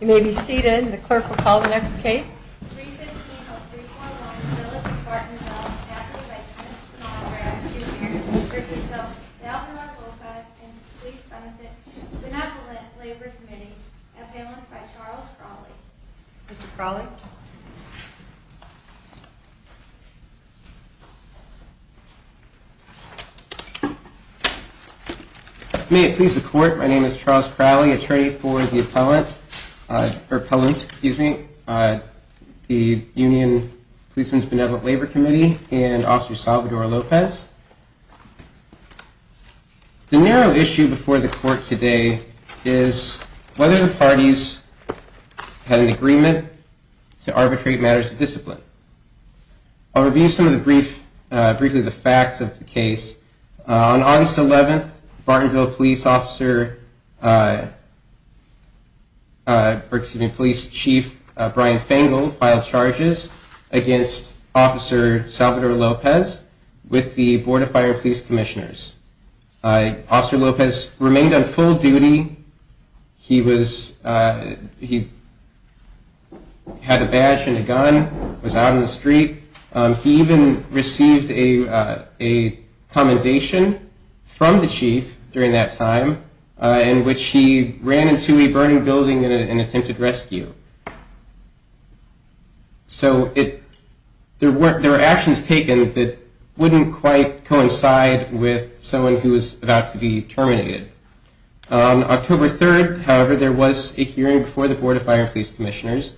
You may be seated. The clerk will call the next case. May it please the court. My name is Charles Crowley, attorney for the Pelham, excuse me, the Union Policeman's Benevolent Labor Committee and Officer Salvador Lopez. The narrow issue before the court today is whether the parties had an agreement to arbitrate matters of discipline. I'll review some of the brief, briefly the facts of the case. On August 11th, Bartonville police officer, excuse me, police chief Brian Fangle filed charges against Officer Salvador Lopez with the Board of Fire and Police Commissioners. Officer Lopez remained on full duty. He was, he had a badge and a gun, was out on the street. He even received a commendation from the chief during that time in which he ran into a burning building and attempted rescue. So it, there were, there were actions taken that wouldn't quite coincide with someone who was about to be terminated. On October 3rd, however, there was a hearing before the Board of Fire and Police Commissioners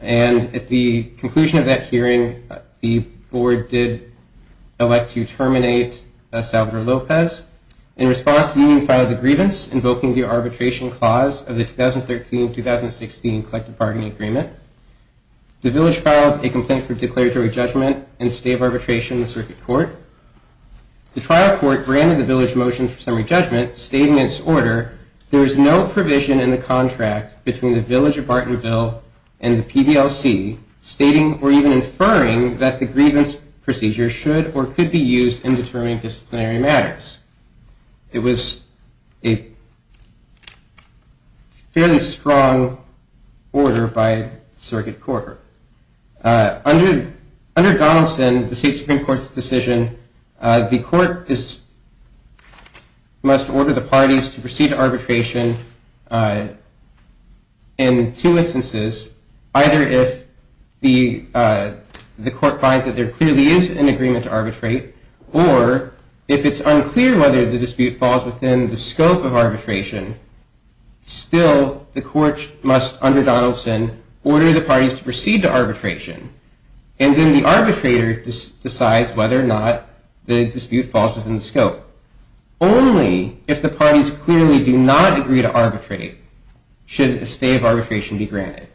and at the conclusion of that hearing, the board did elect to terminate Salvador Lopez. In response, the union filed a grievance invoking the arbitration clause of the 2013-2016 collective bargaining agreement. The village filed a complaint for declaratory judgment and stay of arbitration in the circuit court. The trial court granted the village motion for summary judgment stating in its order, there is no provision in the contract between the village of Bartonville and the PDLC stating or even inferring that the grievance procedure should or could be used in determining disciplinary matters. It was a fairly strong order by the circuit court. Under Donaldson, the State Supreme Court's decision, the court must order the parties to proceed to arbitration in two instances, either if the court finds that there clearly is an agreement to arbitrate or if it's unclear whether the dispute falls within the scope of arbitration. Still, the court must, under Donaldson, order the parties to proceed to arbitration and then the arbitrator decides whether or not the dispute falls within the scope. Only if the parties clearly do not agree to arbitrate should a stay of arbitration be granted.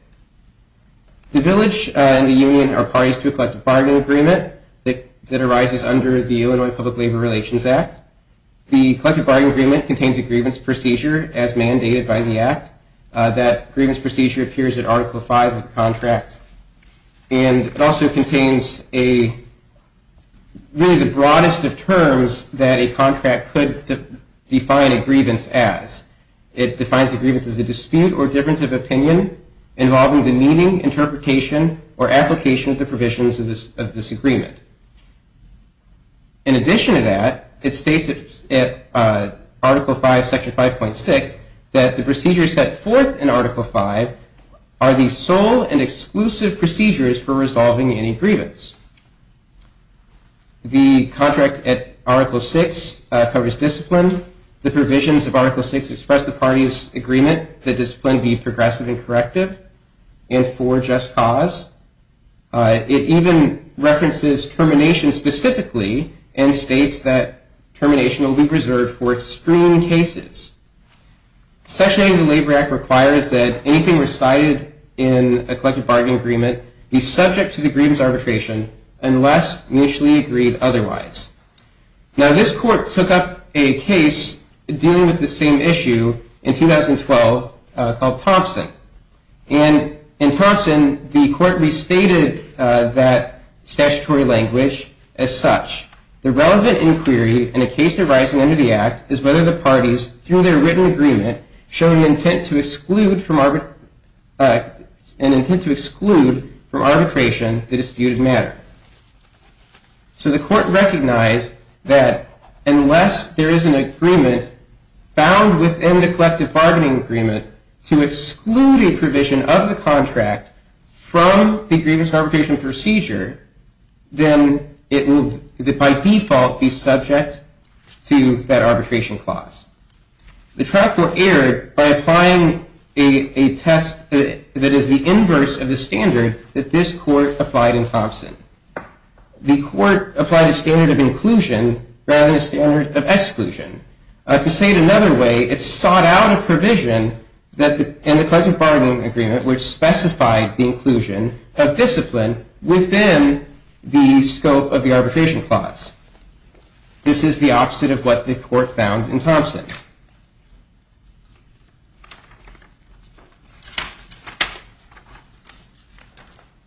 The village and the union are parties to a collective bargaining agreement that arises under the Illinois Public Labor Relations Act. The collective bargaining agreement contains a grievance procedure as mandated by the Act. That grievance procedure appears in Article V of the contract and it also contains a, really the broadest of terms that a contract could define a grievance as. It defines a grievance as a dispute or difference of opinion involving the meaning, interpretation, or application of the provisions of this agreement. In addition to that, it states in Article V, Section 5.6, that the procedures set forth in Article V are the sole and exclusive procedures for resolving any grievance. The contract at Article VI covers discipline. The provisions of Article VI express the party's agreement that discipline be progressive and corrective and for just cause. It even references termination specifically and states that termination will be reserved for extreme cases. Section 8 of the Labor Act requires that anything recited in a collective bargaining agreement be subject to the grievance arbitration unless mutually agreed otherwise. Now this court took up a case dealing with the same issue in 2012 called Thompson. And in Thompson, the court restated that statutory language as such. The relevant inquiry in a case arising under the Act is whether the parties, through their written agreement, show an intent to exclude from arbitration the disputed matter. So the court recognized that unless there is an agreement found within the collective bargaining agreement to exclude a provision of the contract from the grievance arbitration procedure, then it will, by default, be subject to that arbitration clause. The trial court erred by applying a test that is the inverse of the standard that this court applied in Thompson. The court applied a standard of inclusion rather than a standard of exclusion. To say it another way, it sought out a provision in the collective bargaining agreement which specified the inclusion of discipline within the scope of the arbitration clause. This is the opposite of what the court found in Thompson.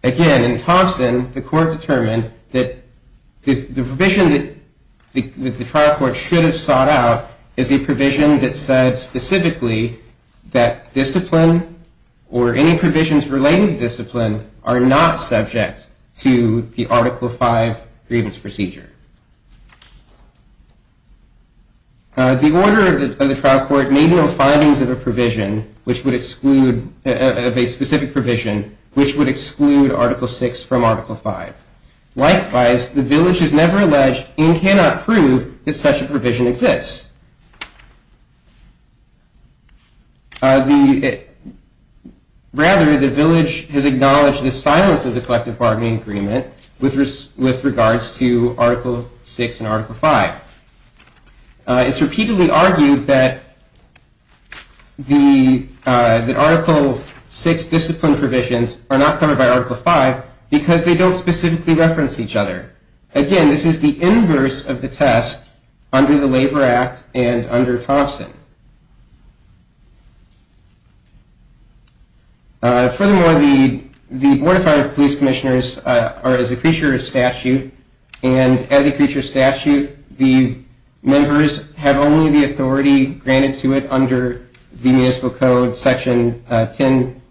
Again, in Thompson, the court determined that the provision that the trial court should have sought out is a provision that said specifically that discipline or any provisions related to discipline are not subject to the Article V grievance procedure. The order of the trial court made no findings of a provision which would exclude, of a specific provision, which would exclude Article VI from Article V. Likewise, the court did not conclude that such a provision exists. Rather, the village has acknowledged the silence of the collective bargaining agreement with regards to Article VI and Article V. It's repeatedly argued that Article VI discipline provisions are not covered by Article V because they don't specifically reference each other. Again, this is the inverse of the test under the Labor Act and under Thompson. Furthermore, the Board of Fire Police Commissioners are as a creature of statute, and as a creature of statute, the members have only the authority granted to it under the Municipal Code, specifically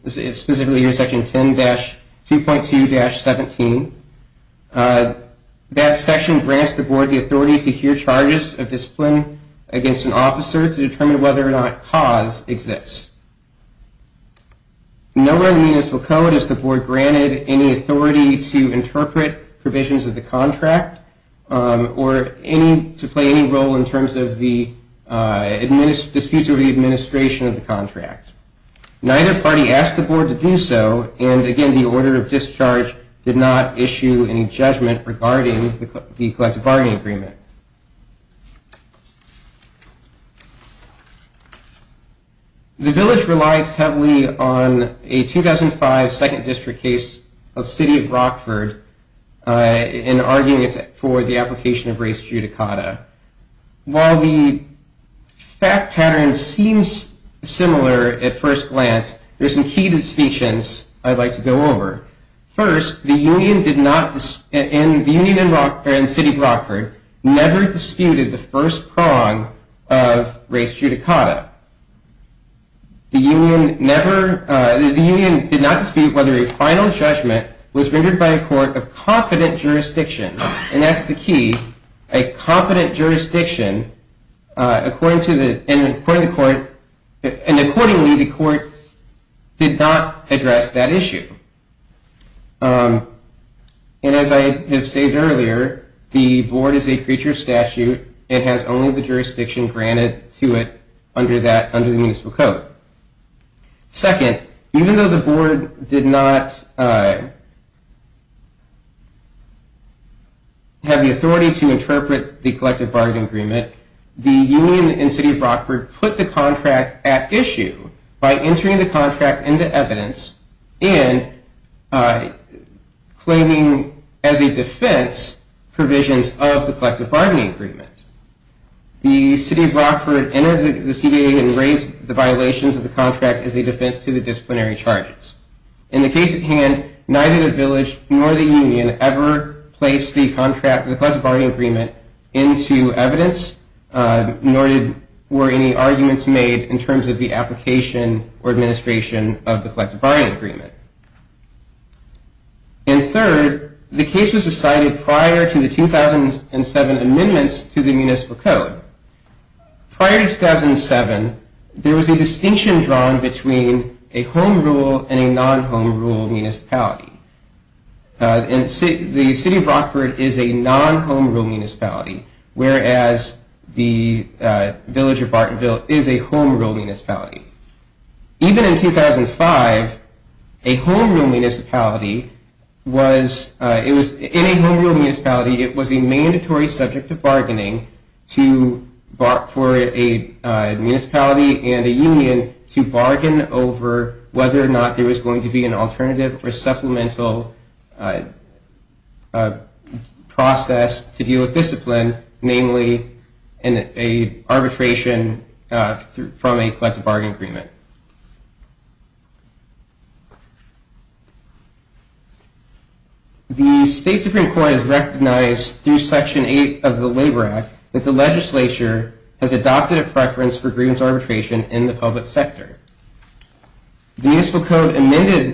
Section 10-2.2-17. That section grants the charges of discipline against an officer to determine whether or not cause exists. Nowhere in the Municipal Code is the Board granted any authority to interpret provisions of the contract or to play any role in terms of the disputes over the administration of the contract. Neither party asked the Board to do so, and again, the order of discharge did not issue any judgment regarding the collective bargaining agreement. The village relies heavily on a 2005 Second District case of the City of Rockford in arguing for the application of race judicata. While the fact pattern seems similar at first glance, there are some key distinctions I'd like to go over. First, the Union in the City of Rockford never disputed the first prong of race judicata. The Union did not dispute whether a final judgment was rendered by a court of competent jurisdiction, and that's the key. A competent jurisdiction, and accordingly, the court did not address that issue. And as I have stated earlier, the Board is a creature of jurisdiction. It has only the jurisdiction granted to it under the Municipal Code. Second, even though the Board did not have the authority to interpret the collective bargaining agreement, the Union in the City of Rockford put the contract at issue by entering the contract into evidence and claiming as a defense provisions of the collective bargaining agreement. The City of Rockford entered the CBA and raised the violations of the contract as a defense to the disciplinary charges. In the case at hand, neither the village nor the Union ever placed the collective bargaining agreement into evidence, nor were any arguments made in terms of the application or administration of the collective bargaining agreement. And third, the case was decided prior to the 2007 amendments to the Municipal Code. Prior to 2007, there was a distinction drawn between a home rule and a non-home rule municipality. The City of Rockford is a non-home rule municipality, whereas the village of Bartonville is a home rule municipality. Even in 2005, a home rule municipality was a mandatory subject of bargaining for a municipality and a union to bargain over whether or not there was going to be an alternative or supplemental process to deal with discipline, namely an arbitration from a collective bargaining agreement. The States Different Court has recognized through Section 8 of the Labor Act that the legislature has adopted a preference for grievance arbitration in the public sector. The Municipal Code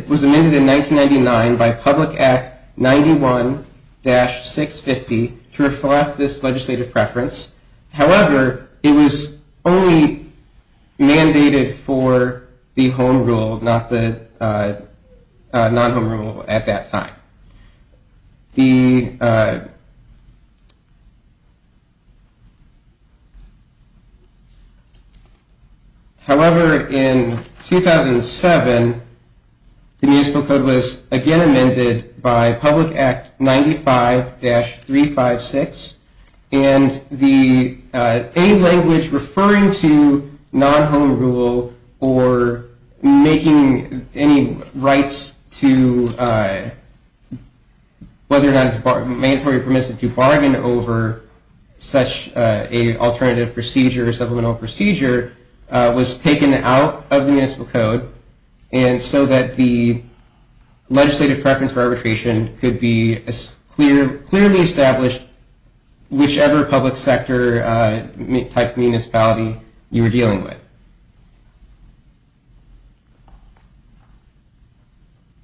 was amended in 1999 by Public Act 91-650 to reflect this legislative preference. However, it was only mandated for the home rule, not the non-home rule at that time. The Municipal Code was amended in 2007 by Public Act 95-356, and any language referring to non-home rule or making any rights to whether or not it is appropriate to have such an alternative procedure or supplemental procedure was taken out of the Municipal Code, and so that the legislative preference for arbitration could be clearly established whichever public sector type of municipality you were dealing with.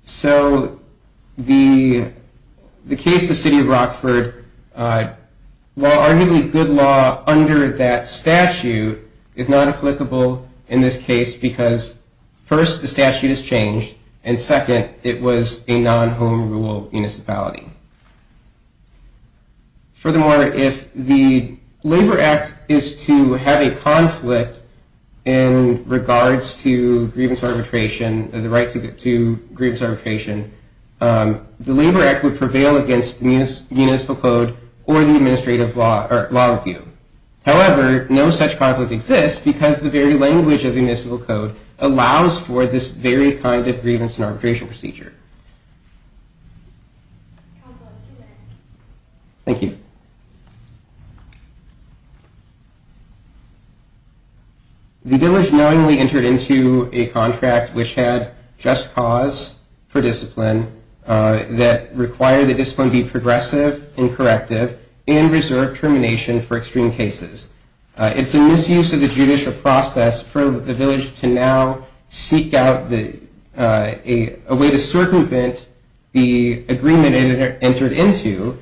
So the case of the City of Rockford, while arguably the most important, arguably good law under that statute is not applicable in this case because first, the statute has changed, and second, it was a non-home rule municipality. Furthermore, if the Labor Act is to have a conflict in regards to grievance arbitration, the right to grievance arbitration, the Labor Act would prevail against the Municipal Code or the administrative law review. However, no such conflict exists because the very language of the Municipal Code allows for this very kind of grievance and arbitration procedure. The dealers knowingly entered into a contract which had just cause for discipline that required the discipline be progressive and corrective and that it should not be a reserve termination for extreme cases. It's a misuse of the judicial process for the village to now seek out a way to circumvent the agreement it entered into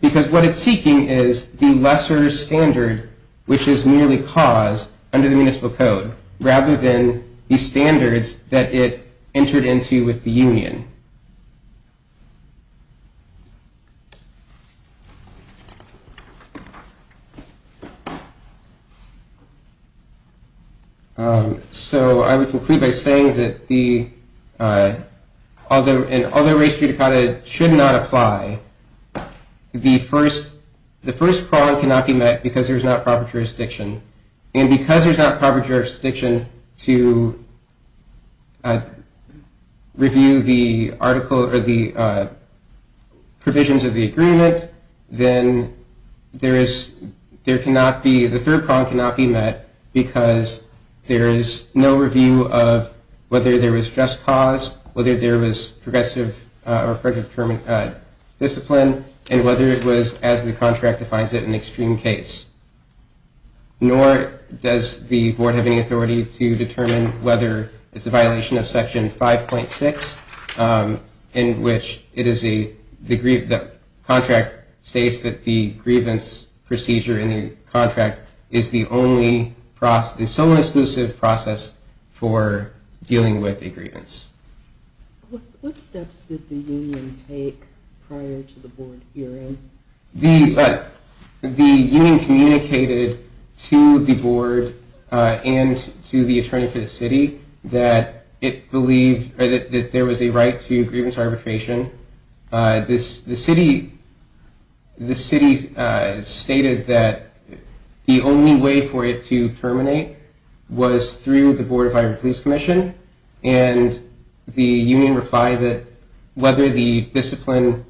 because what it's seeking is the lesser standard which is merely cause under the Municipal Code rather than the standards that it entered into with the union. So I would conclude by saying that although race judicata should not apply, the first prong cannot be met because there is not proper jurisdiction. And because there is not proper jurisdiction to review the provisions of the agreement, then there is, there cannot be, the third prong cannot be met because there is no review of whether there was just cause, whether there was progressive or corrective discipline, and whether it was as the contract defines it, an extreme case. Nor does the board have any authority to determine whether it's a violation of Section 5.6 in which it is the contract states that the grievance procedure in the contract is the only process, the sole and exclusive process for dealing with a grievance. What steps did the union take prior to the board hearing? The union communicated to the board and to the attorney for the city that it believed that there was a right to grievance arbitration. This is a right to grievance arbitration. The city stated that the only way for it to terminate was through the Board of Fire and Police Commission, and the union replied that whether the discipline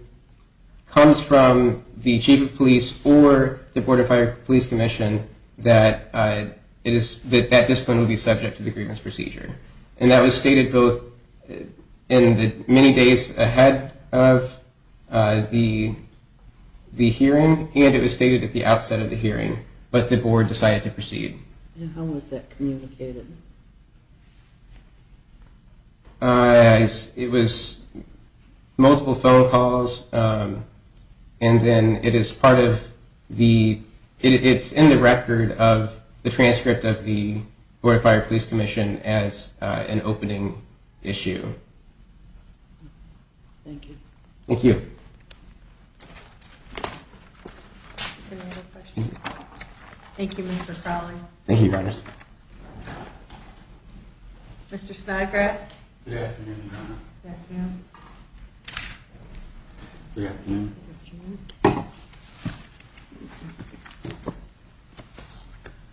comes from the chief of police or the Board of Fire and Police Commission, that that discipline would be subject to the grievance procedure. And that was stated both in the many days ahead of the hearing, and it was stated at the outset of the hearing, but the board decided to proceed. And how was that communicated? It was multiple phone calls, and then it is part of the, it's in the record of the transcript of the Board of Fire and Police Commission as an opening issue. Thank you. Thank you. Thank you, Mr. Crowley. Thank you. Mr. Snodgrass. Good afternoon.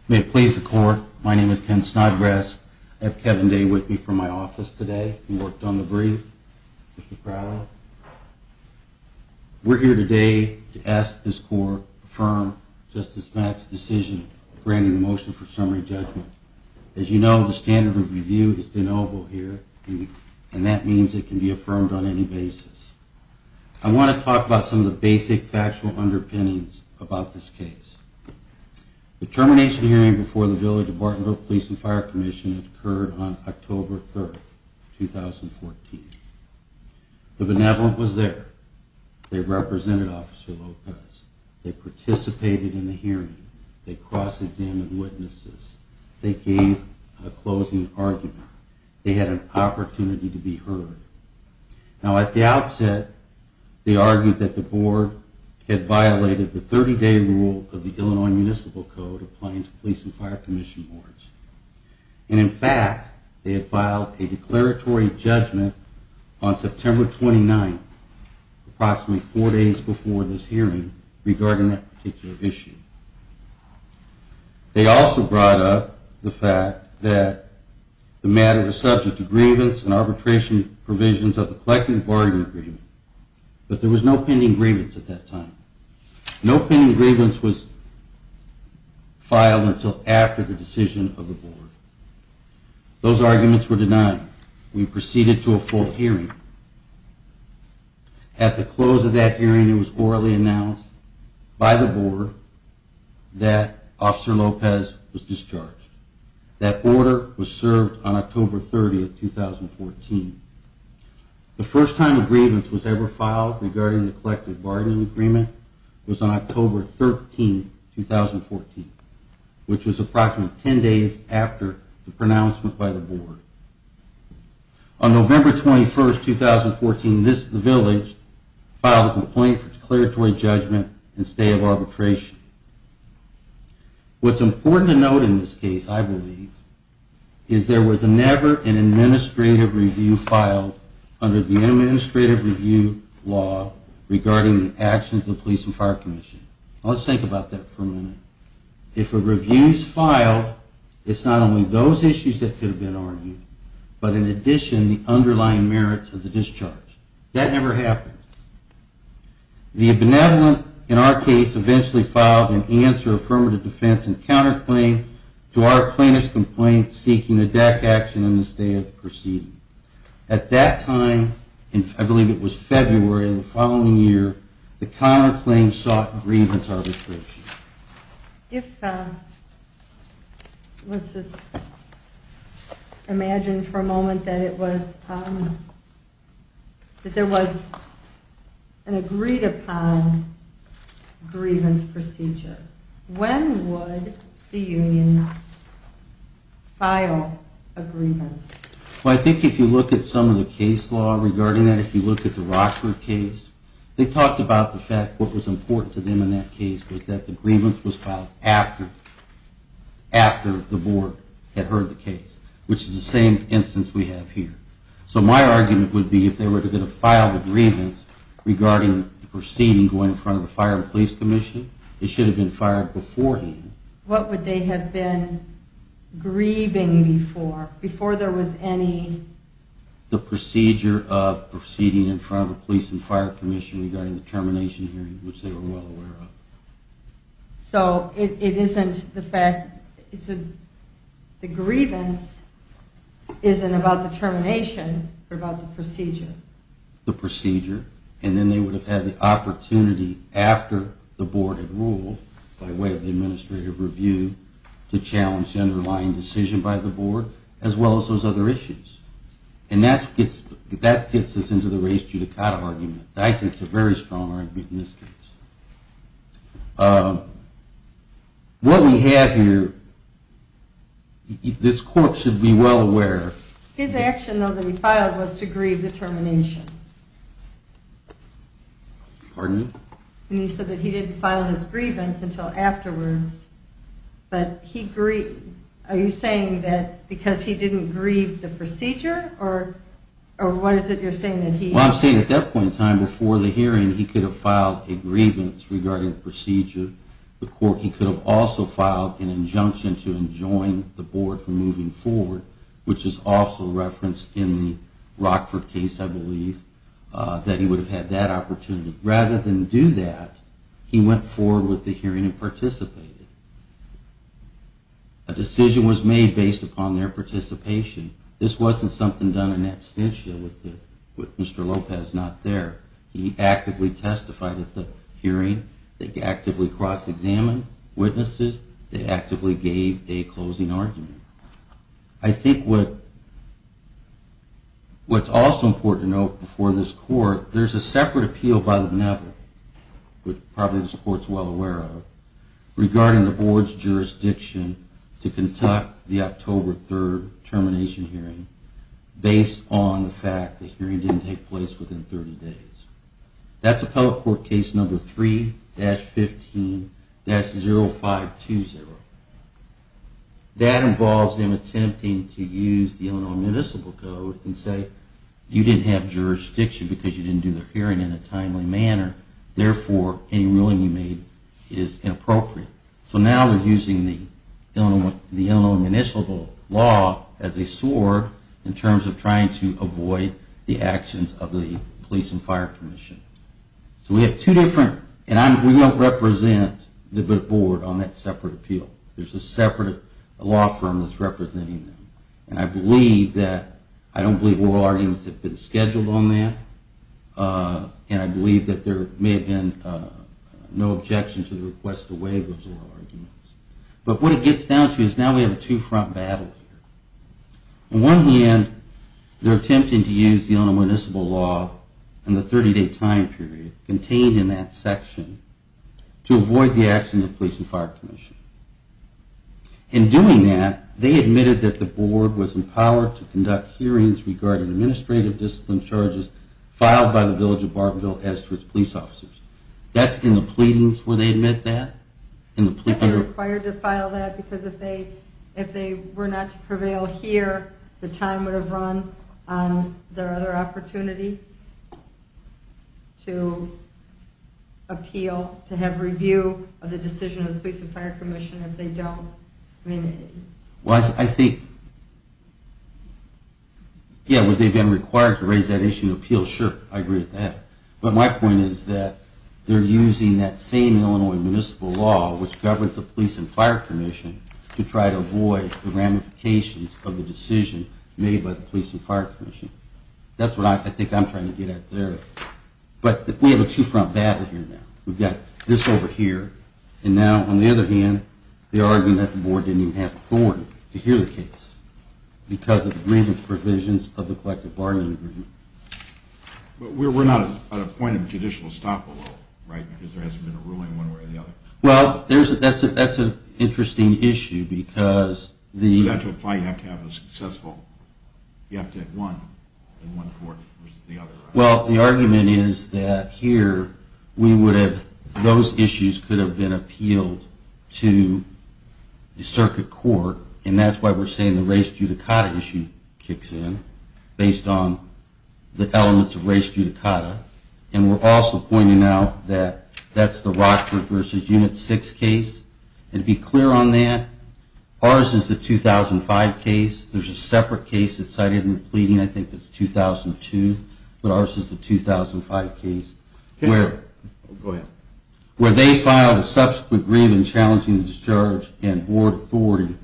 May it please the court, my name is Ken Snodgrass. I have Kevin Day with me from my office today and worked on the brief. Mr. Crowley. We're here today to ask this court to affirm Justice Mack's decision granting the motion for summary judgment. As you know, the standard of review is de novo here, and that means it can be affirmed on any basis. I want to talk about some of the basic factual underpinnings about this case. The termination hearing before the Villa de Bartonville Police and Fire Commission occurred on October 3, 2014. The Benevolent was there. They represented Officer Lopez. They participated in the hearing. They cross-examined witnesses. They gave a closing argument. They had an opportunity to be heard. Now, at the outset, they argued that the board had violated the 30-day rule of the Illinois Municipal Code applying to police and fire commission boards. And in fact, they had filed a declaratory judgment on September 29, approximately four days before this hearing regarding that particular issue. They also brought up the fact that the matter was subject to grievance and arbitration provisions of the collective bargaining agreement, but there was no pending grievance at that time. No pending grievance was filed until after the decision of the board. Those arguments were denied. We proceeded to a full hearing. At the close of that hearing, it was orally announced by the board that Officer Lopez was discharged. That order was served on October 30, 2014. The first time a grievance was ever filed regarding the collective bargaining agreement was on October 13, 2014, which was approximately 10 days after the pronouncement by the board. On November 21, 2014, the village filed a complaint for declaratory judgment and stay of arbitration. What's important to note in this case, I believe, is there was never an administrative review filed under the administrative review law regarding the actions of the police and fire commission. Let's think about that for a minute. If a review is filed, it's not only those issues that could have been argued, but in addition, the underlying merits of the discharge. That never happened. The benevolent, in our case, eventually filed an answer affirmative defense and counterclaim to our plaintiff's complaint seeking a DAC action in the stay of the proceeding. At that time, I believe it was February of the following year, the counterclaim sought grievance arbitration. If, let's just imagine for a moment that there was an agreed upon grievance procedure, when would the union file a grievance? I think if you look at some of the case law regarding that, if you look at the Rockford case, they talked about the fact what was important to them in that case was that the grievance was filed after the board had heard the case, which is the same instance we have here. So my argument would be if they were to file a grievance regarding the proceeding going in front of the fire and police commission, it should have been fired beforehand. What would they have been grieving before? Before there was any... The procedure of proceeding in front of the police and fire commission regarding the termination hearing, which they were well aware of. So it isn't the fact... The grievance isn't about the termination, but about the procedure. The procedure. And then they would have had the opportunity after the board had ruled by way of the administrative review to challenge the underlying decision by the board as well as those other issues. And that gets us into the race-judicata argument. I think it's a very strong argument in this case. What we have here... This court should be well aware... His action, though, that he filed was to grieve the termination. Pardon me? And he said that he didn't file his grievance until afterwards, but he grieved... Are you saying that because he didn't grieve the procedure, or what is it you're saying? Well, I'm saying at that point in time, before the hearing, he could have filed a grievance regarding the procedure. He could have also filed an injunction to enjoin the board from moving forward, which is also referenced in the Rockford case, I believe, that he would have had that opportunity. Rather than do that, he went forward with the hearing and participated. A decision was made based upon their participation. This wasn't something done in absentia, with Mr. Lopez not there. He actively testified at the hearing. They actively cross-examined witnesses. I think what's also important to note before this court, there's a separate appeal by the Neville, which probably this court is well aware of, regarding the board's jurisdiction to conduct the October 3rd termination hearing based on the fact that the hearing didn't take place within 30 days. That's Appellate Court Case No. 3-15-0520. That involves them attempting to use the Illinois Municipal Code and say, you didn't have jurisdiction because you didn't do the hearing in a timely manner. Therefore, any ruling you made is inappropriate. So now they're using the Illinois Municipal Law as a sword in terms of trying to avoid the actions of the Police and Fire Commission. So we have two different, and we don't represent the board on that separate appeal. There's a separate law firm that's representing them. And I believe that, I don't believe oral arguments have been scheduled on that, and I believe that there may have been no objection to the request to waive those oral arguments. But what it gets down to is now we have a two-front battle here. On one hand, they're attempting to use the Illinois Municipal Law and the 30-day time period contained in that section to avoid the actions of the Police and Fire Commission. In doing that, they admitted that the board was empowered to conduct hearings regarding administrative discipline charges filed by the Village of Bartonville as to its police officers. That's in the pleadings where they admit that? I think they're required to file that because if they were not to prevail here, the time would have run on their other opportunity to appeal, to have review of the decision of the Police and Fire Commission if they don't. Well, I think... Yeah, would they have been required to raise that issue in an appeal? Sure, I agree with that. But my point is that they're using that same Illinois Municipal Law which governs the Police and Fire Commission to try to avoid the ramifications of the decision made by the Police and Fire Commission. That's what I think I'm trying to get at there. But we have a two-front battle here now. We've got this over here, and now on the other hand, they're arguing that the board didn't even have authority to hear the case because of the briefings provisions of the collective bargaining agreement. But we're not at a point of judicial stop-and-go right now because there hasn't been a ruling one way or the other. Well, that's an interesting issue because... You have to apply, you have to have a successful... You have to have one in one court versus the other. Well, the argument is that here we would have... Those issues could have been appealed to the circuit court. And that's why we're saying the race judicata issue kicks in based on the elements of race judicata. And we're also pointing out that that's the Rockford v. Unit 6 case. And to be clear on that, ours is the 2005 case. There's a separate case that's cited in the pleading. I think it's 2002, but ours is the 2005 case. Where they filed a subsequent grievance challenging the discharge and board authority,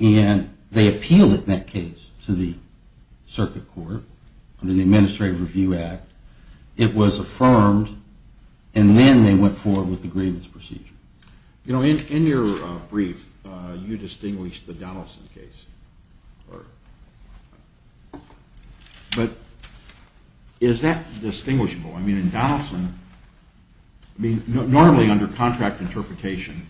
and they appealed it in that case to the circuit court under the Administrative Review Act. It was affirmed, and then they went forward with the grievance procedure. You know, in your brief, you distinguished the Donaldson case. But is that distinguishable? I mean, in Donaldson... Normally, under contract interpretation,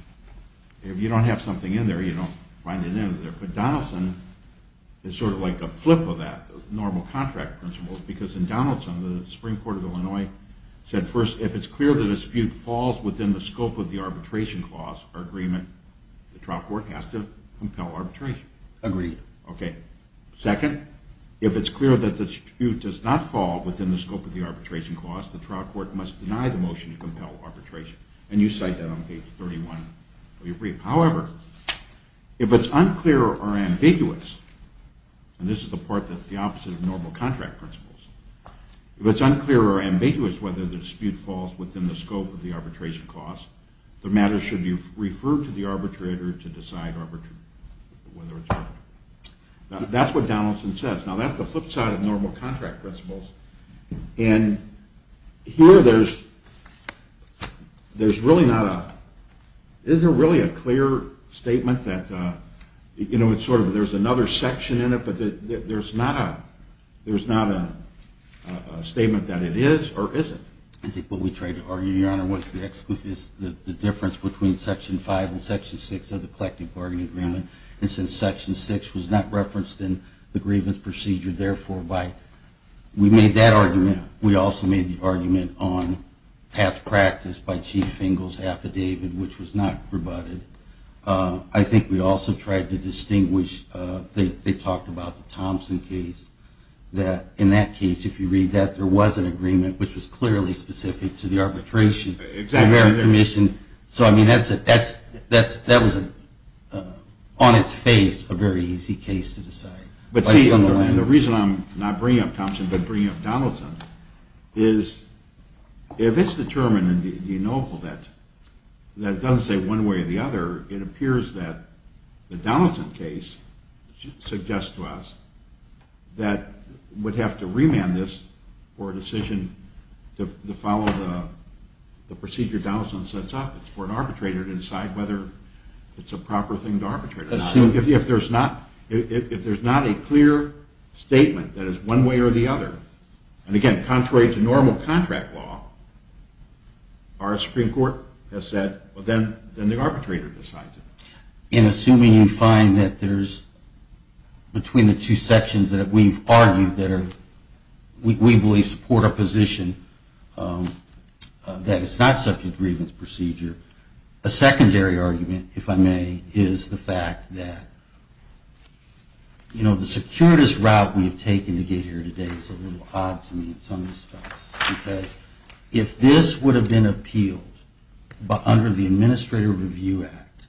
if you don't have something in there, you don't find it in there. But Donaldson is sort of like a flip of that, normal contract principles, because in Donaldson, the Supreme Court of Illinois said, first, if it's clear the dispute falls within the scope of the arbitration clause or agreement, the trial court has to compel arbitration. Agreed. Second, if it's clear that the dispute does not fall within the scope of the arbitration clause, the trial court must deny the motion to compel arbitration. And you cite that on page 31 of your brief. However, if it's unclear or ambiguous, and this is the part that's the opposite of normal contract principles, if it's unclear or ambiguous whether the dispute falls within the scope of the arbitration clause, the matter should be referred to the arbitrator to decide whether it's fair. That's what Donaldson says. Now, that's the flip side of normal contract principles. And here, there's really not a... Is there really a clear statement that... You know, it's sort of... There's another section in it, but there's not a... There's not a statement that it is or isn't. I think what we tried to argue, Your Honor, was the difference between Section 5 and Section 6 of the collective bargaining agreement. And since Section 6 was not referenced in the grievance procedure, therefore, we made that argument. We also made the argument on past practice by Chief Fingal's affidavit, which was not rebutted. I think we also tried to distinguish... They talked about the Thompson case. In that case, if you read that, there was an agreement which was clearly specific to the arbitration. So, I mean, that was, on its face, a very easy case to decide. But see, the reason I'm not bringing up Thompson, but bringing up Donaldson, is if it's determined in the ennoble that it doesn't say one way or the other, it appears that the Donaldson case suggests to us that we'd have to remand this for a decision to follow the procedure Donaldson sets up. It's for an arbitrator to decide whether it's a proper thing to arbitrate or not. If there's not a clear statement that it's one way or the other, and again, contrary to normal contract law, our Supreme Court has said, then the arbitrator decides it. In assuming you find that there's, between the two sections that we've argued that we believe support our position, that it's not subject to grievance procedure, a secondary argument, if I may, is the fact that the securitist route we've taken to get here today is a little odd to me in some respects. Because if this would have been appealed under the Administrative Review Act,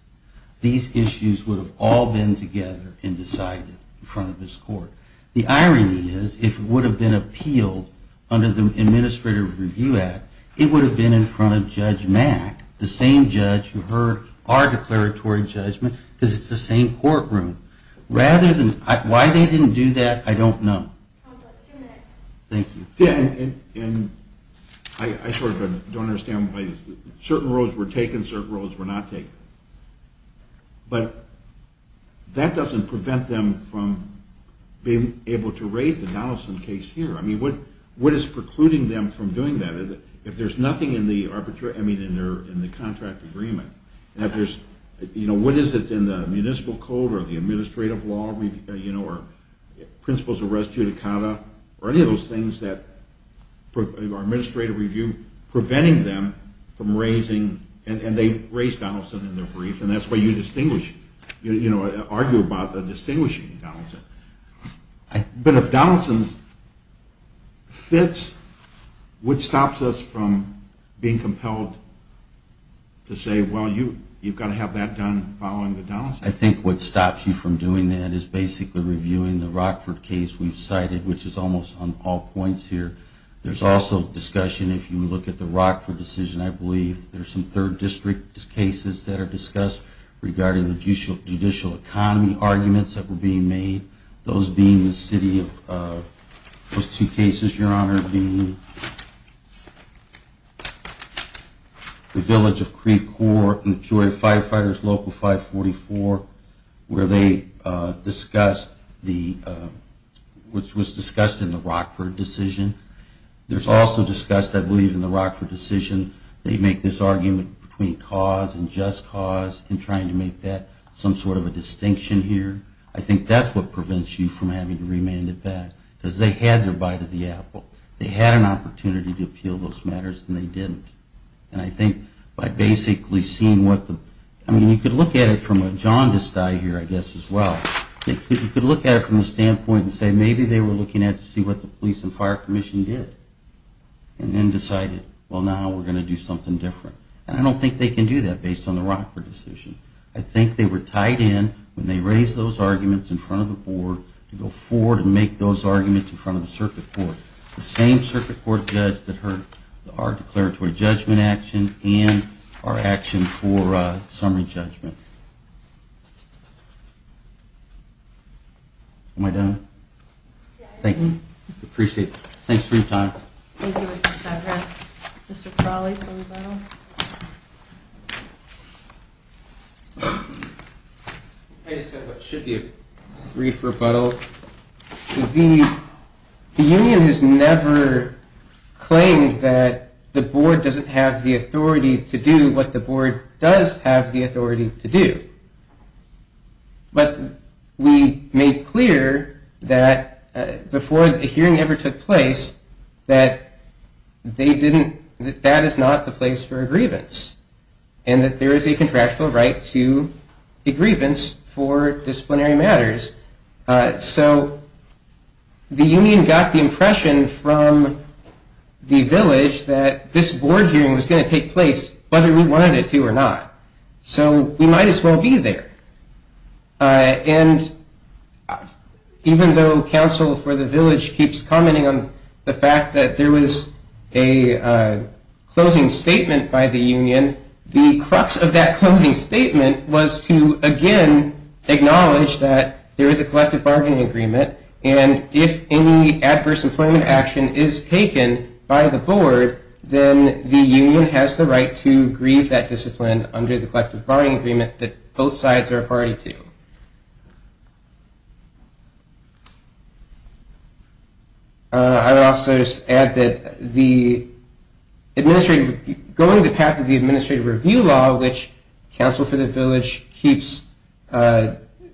these issues would have all been together and decided in front of this Court. The irony is, if it would have been appealed under the Administrative Review Act, it would have been in front of Judge Mack, the same judge who heard our declaratory judgment, because it's the same courtroom. Why they didn't do that, I don't know. Thank you. I sort of don't understand why certain roads were taken, certain roads were not taken. But that doesn't prevent them from being able to raise the Donaldson case here. What is precluding them from doing that? If there's nothing in the contract agreement, what is it in the municipal code or the administrative law, or principles of res judicata, or any of those things that are preventing them from raising, and they raised Donaldson in their brief, and that's why you argue about distinguishing Donaldson. But if Donaldson fits, what stops us from being compelled to say, well, you've got to have that done following the Donaldson case? I think what stops you from doing that is basically reviewing the Rockford case we've cited, which is almost on all points here. There's also discussion, if you look at the Rockford decision, I believe, there's some third district cases that are discussed regarding the judicial economy arguments that were being made, those being the city of those two cases, Your Honor, being the village of Creek Corps and the Peoria Firefighters Local 544, where they discussed the, which was discussed in the Rockford decision. There's also discussed, I believe, in the Rockford decision, they make this argument between cause and just cause in trying to make that some sort of a distinction here. I think that's what prevents you from having to remand it back because they had their bite of the apple. They had an opportunity to appeal those matters, and they didn't. And I think by basically seeing what the, I mean, you could look at it from a jaundiced eye here, I guess, as well. You could look at it from the standpoint and say maybe they were looking to see what the police and fire commission did and then decided, well, now we're going to do something different. And I don't think they can do that based on the Rockford decision. I think they were tied in when they raised those arguments in front of the board to go forward and make those arguments in front of the circuit court, the same circuit court judge that heard our declaratory judgment action and our action for summary judgment. Am I done? Thank you. I appreciate it. Thanks for your time. Thank you, Mr. Cedric. Mr. Crowley for a rebuttal. I just have what should be a brief rebuttal. The union has never claimed that the board doesn't have the authority to do what the board does have the authority to do. But we made clear that before the hearing ever took place that that is not the place for a grievance and that there is a contractual right to a grievance for disciplinary matters. So the union got the impression from the village that this board hearing was going to take place whether we wanted it to or not. So we might as well be there. And even though counsel for the village keeps commenting on the fact that there was a closing statement by the union, the crux of that closing statement was to again acknowledge that there is a collective bargaining agreement and if any adverse employment action is taken by the board, then the union has the right to grieve that discipline under the collective bargaining agreement that both sides are a party to. I would also just add that going the path of the administrative review law which counsel for the village keeps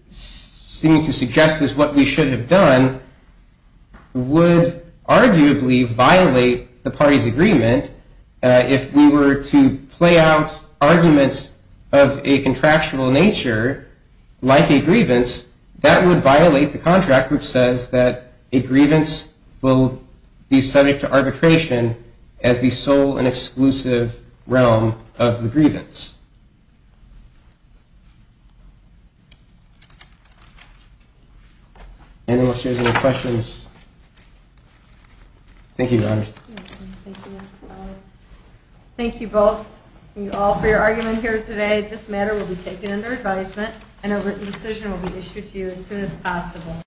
seeming to suggest is what we should have done would arguably violate the party's agreement if we were to play out arguments of a contractual nature like a grievance, that would violate the contract which says that a grievance will be subject to arbitration as the sole and exclusive realm of the grievance. Anyone else have any questions? Thank you. Thank you both. Thank you all for your argument here today. This matter will be taken under advisement and a written decision will be issued to you as soon as possible.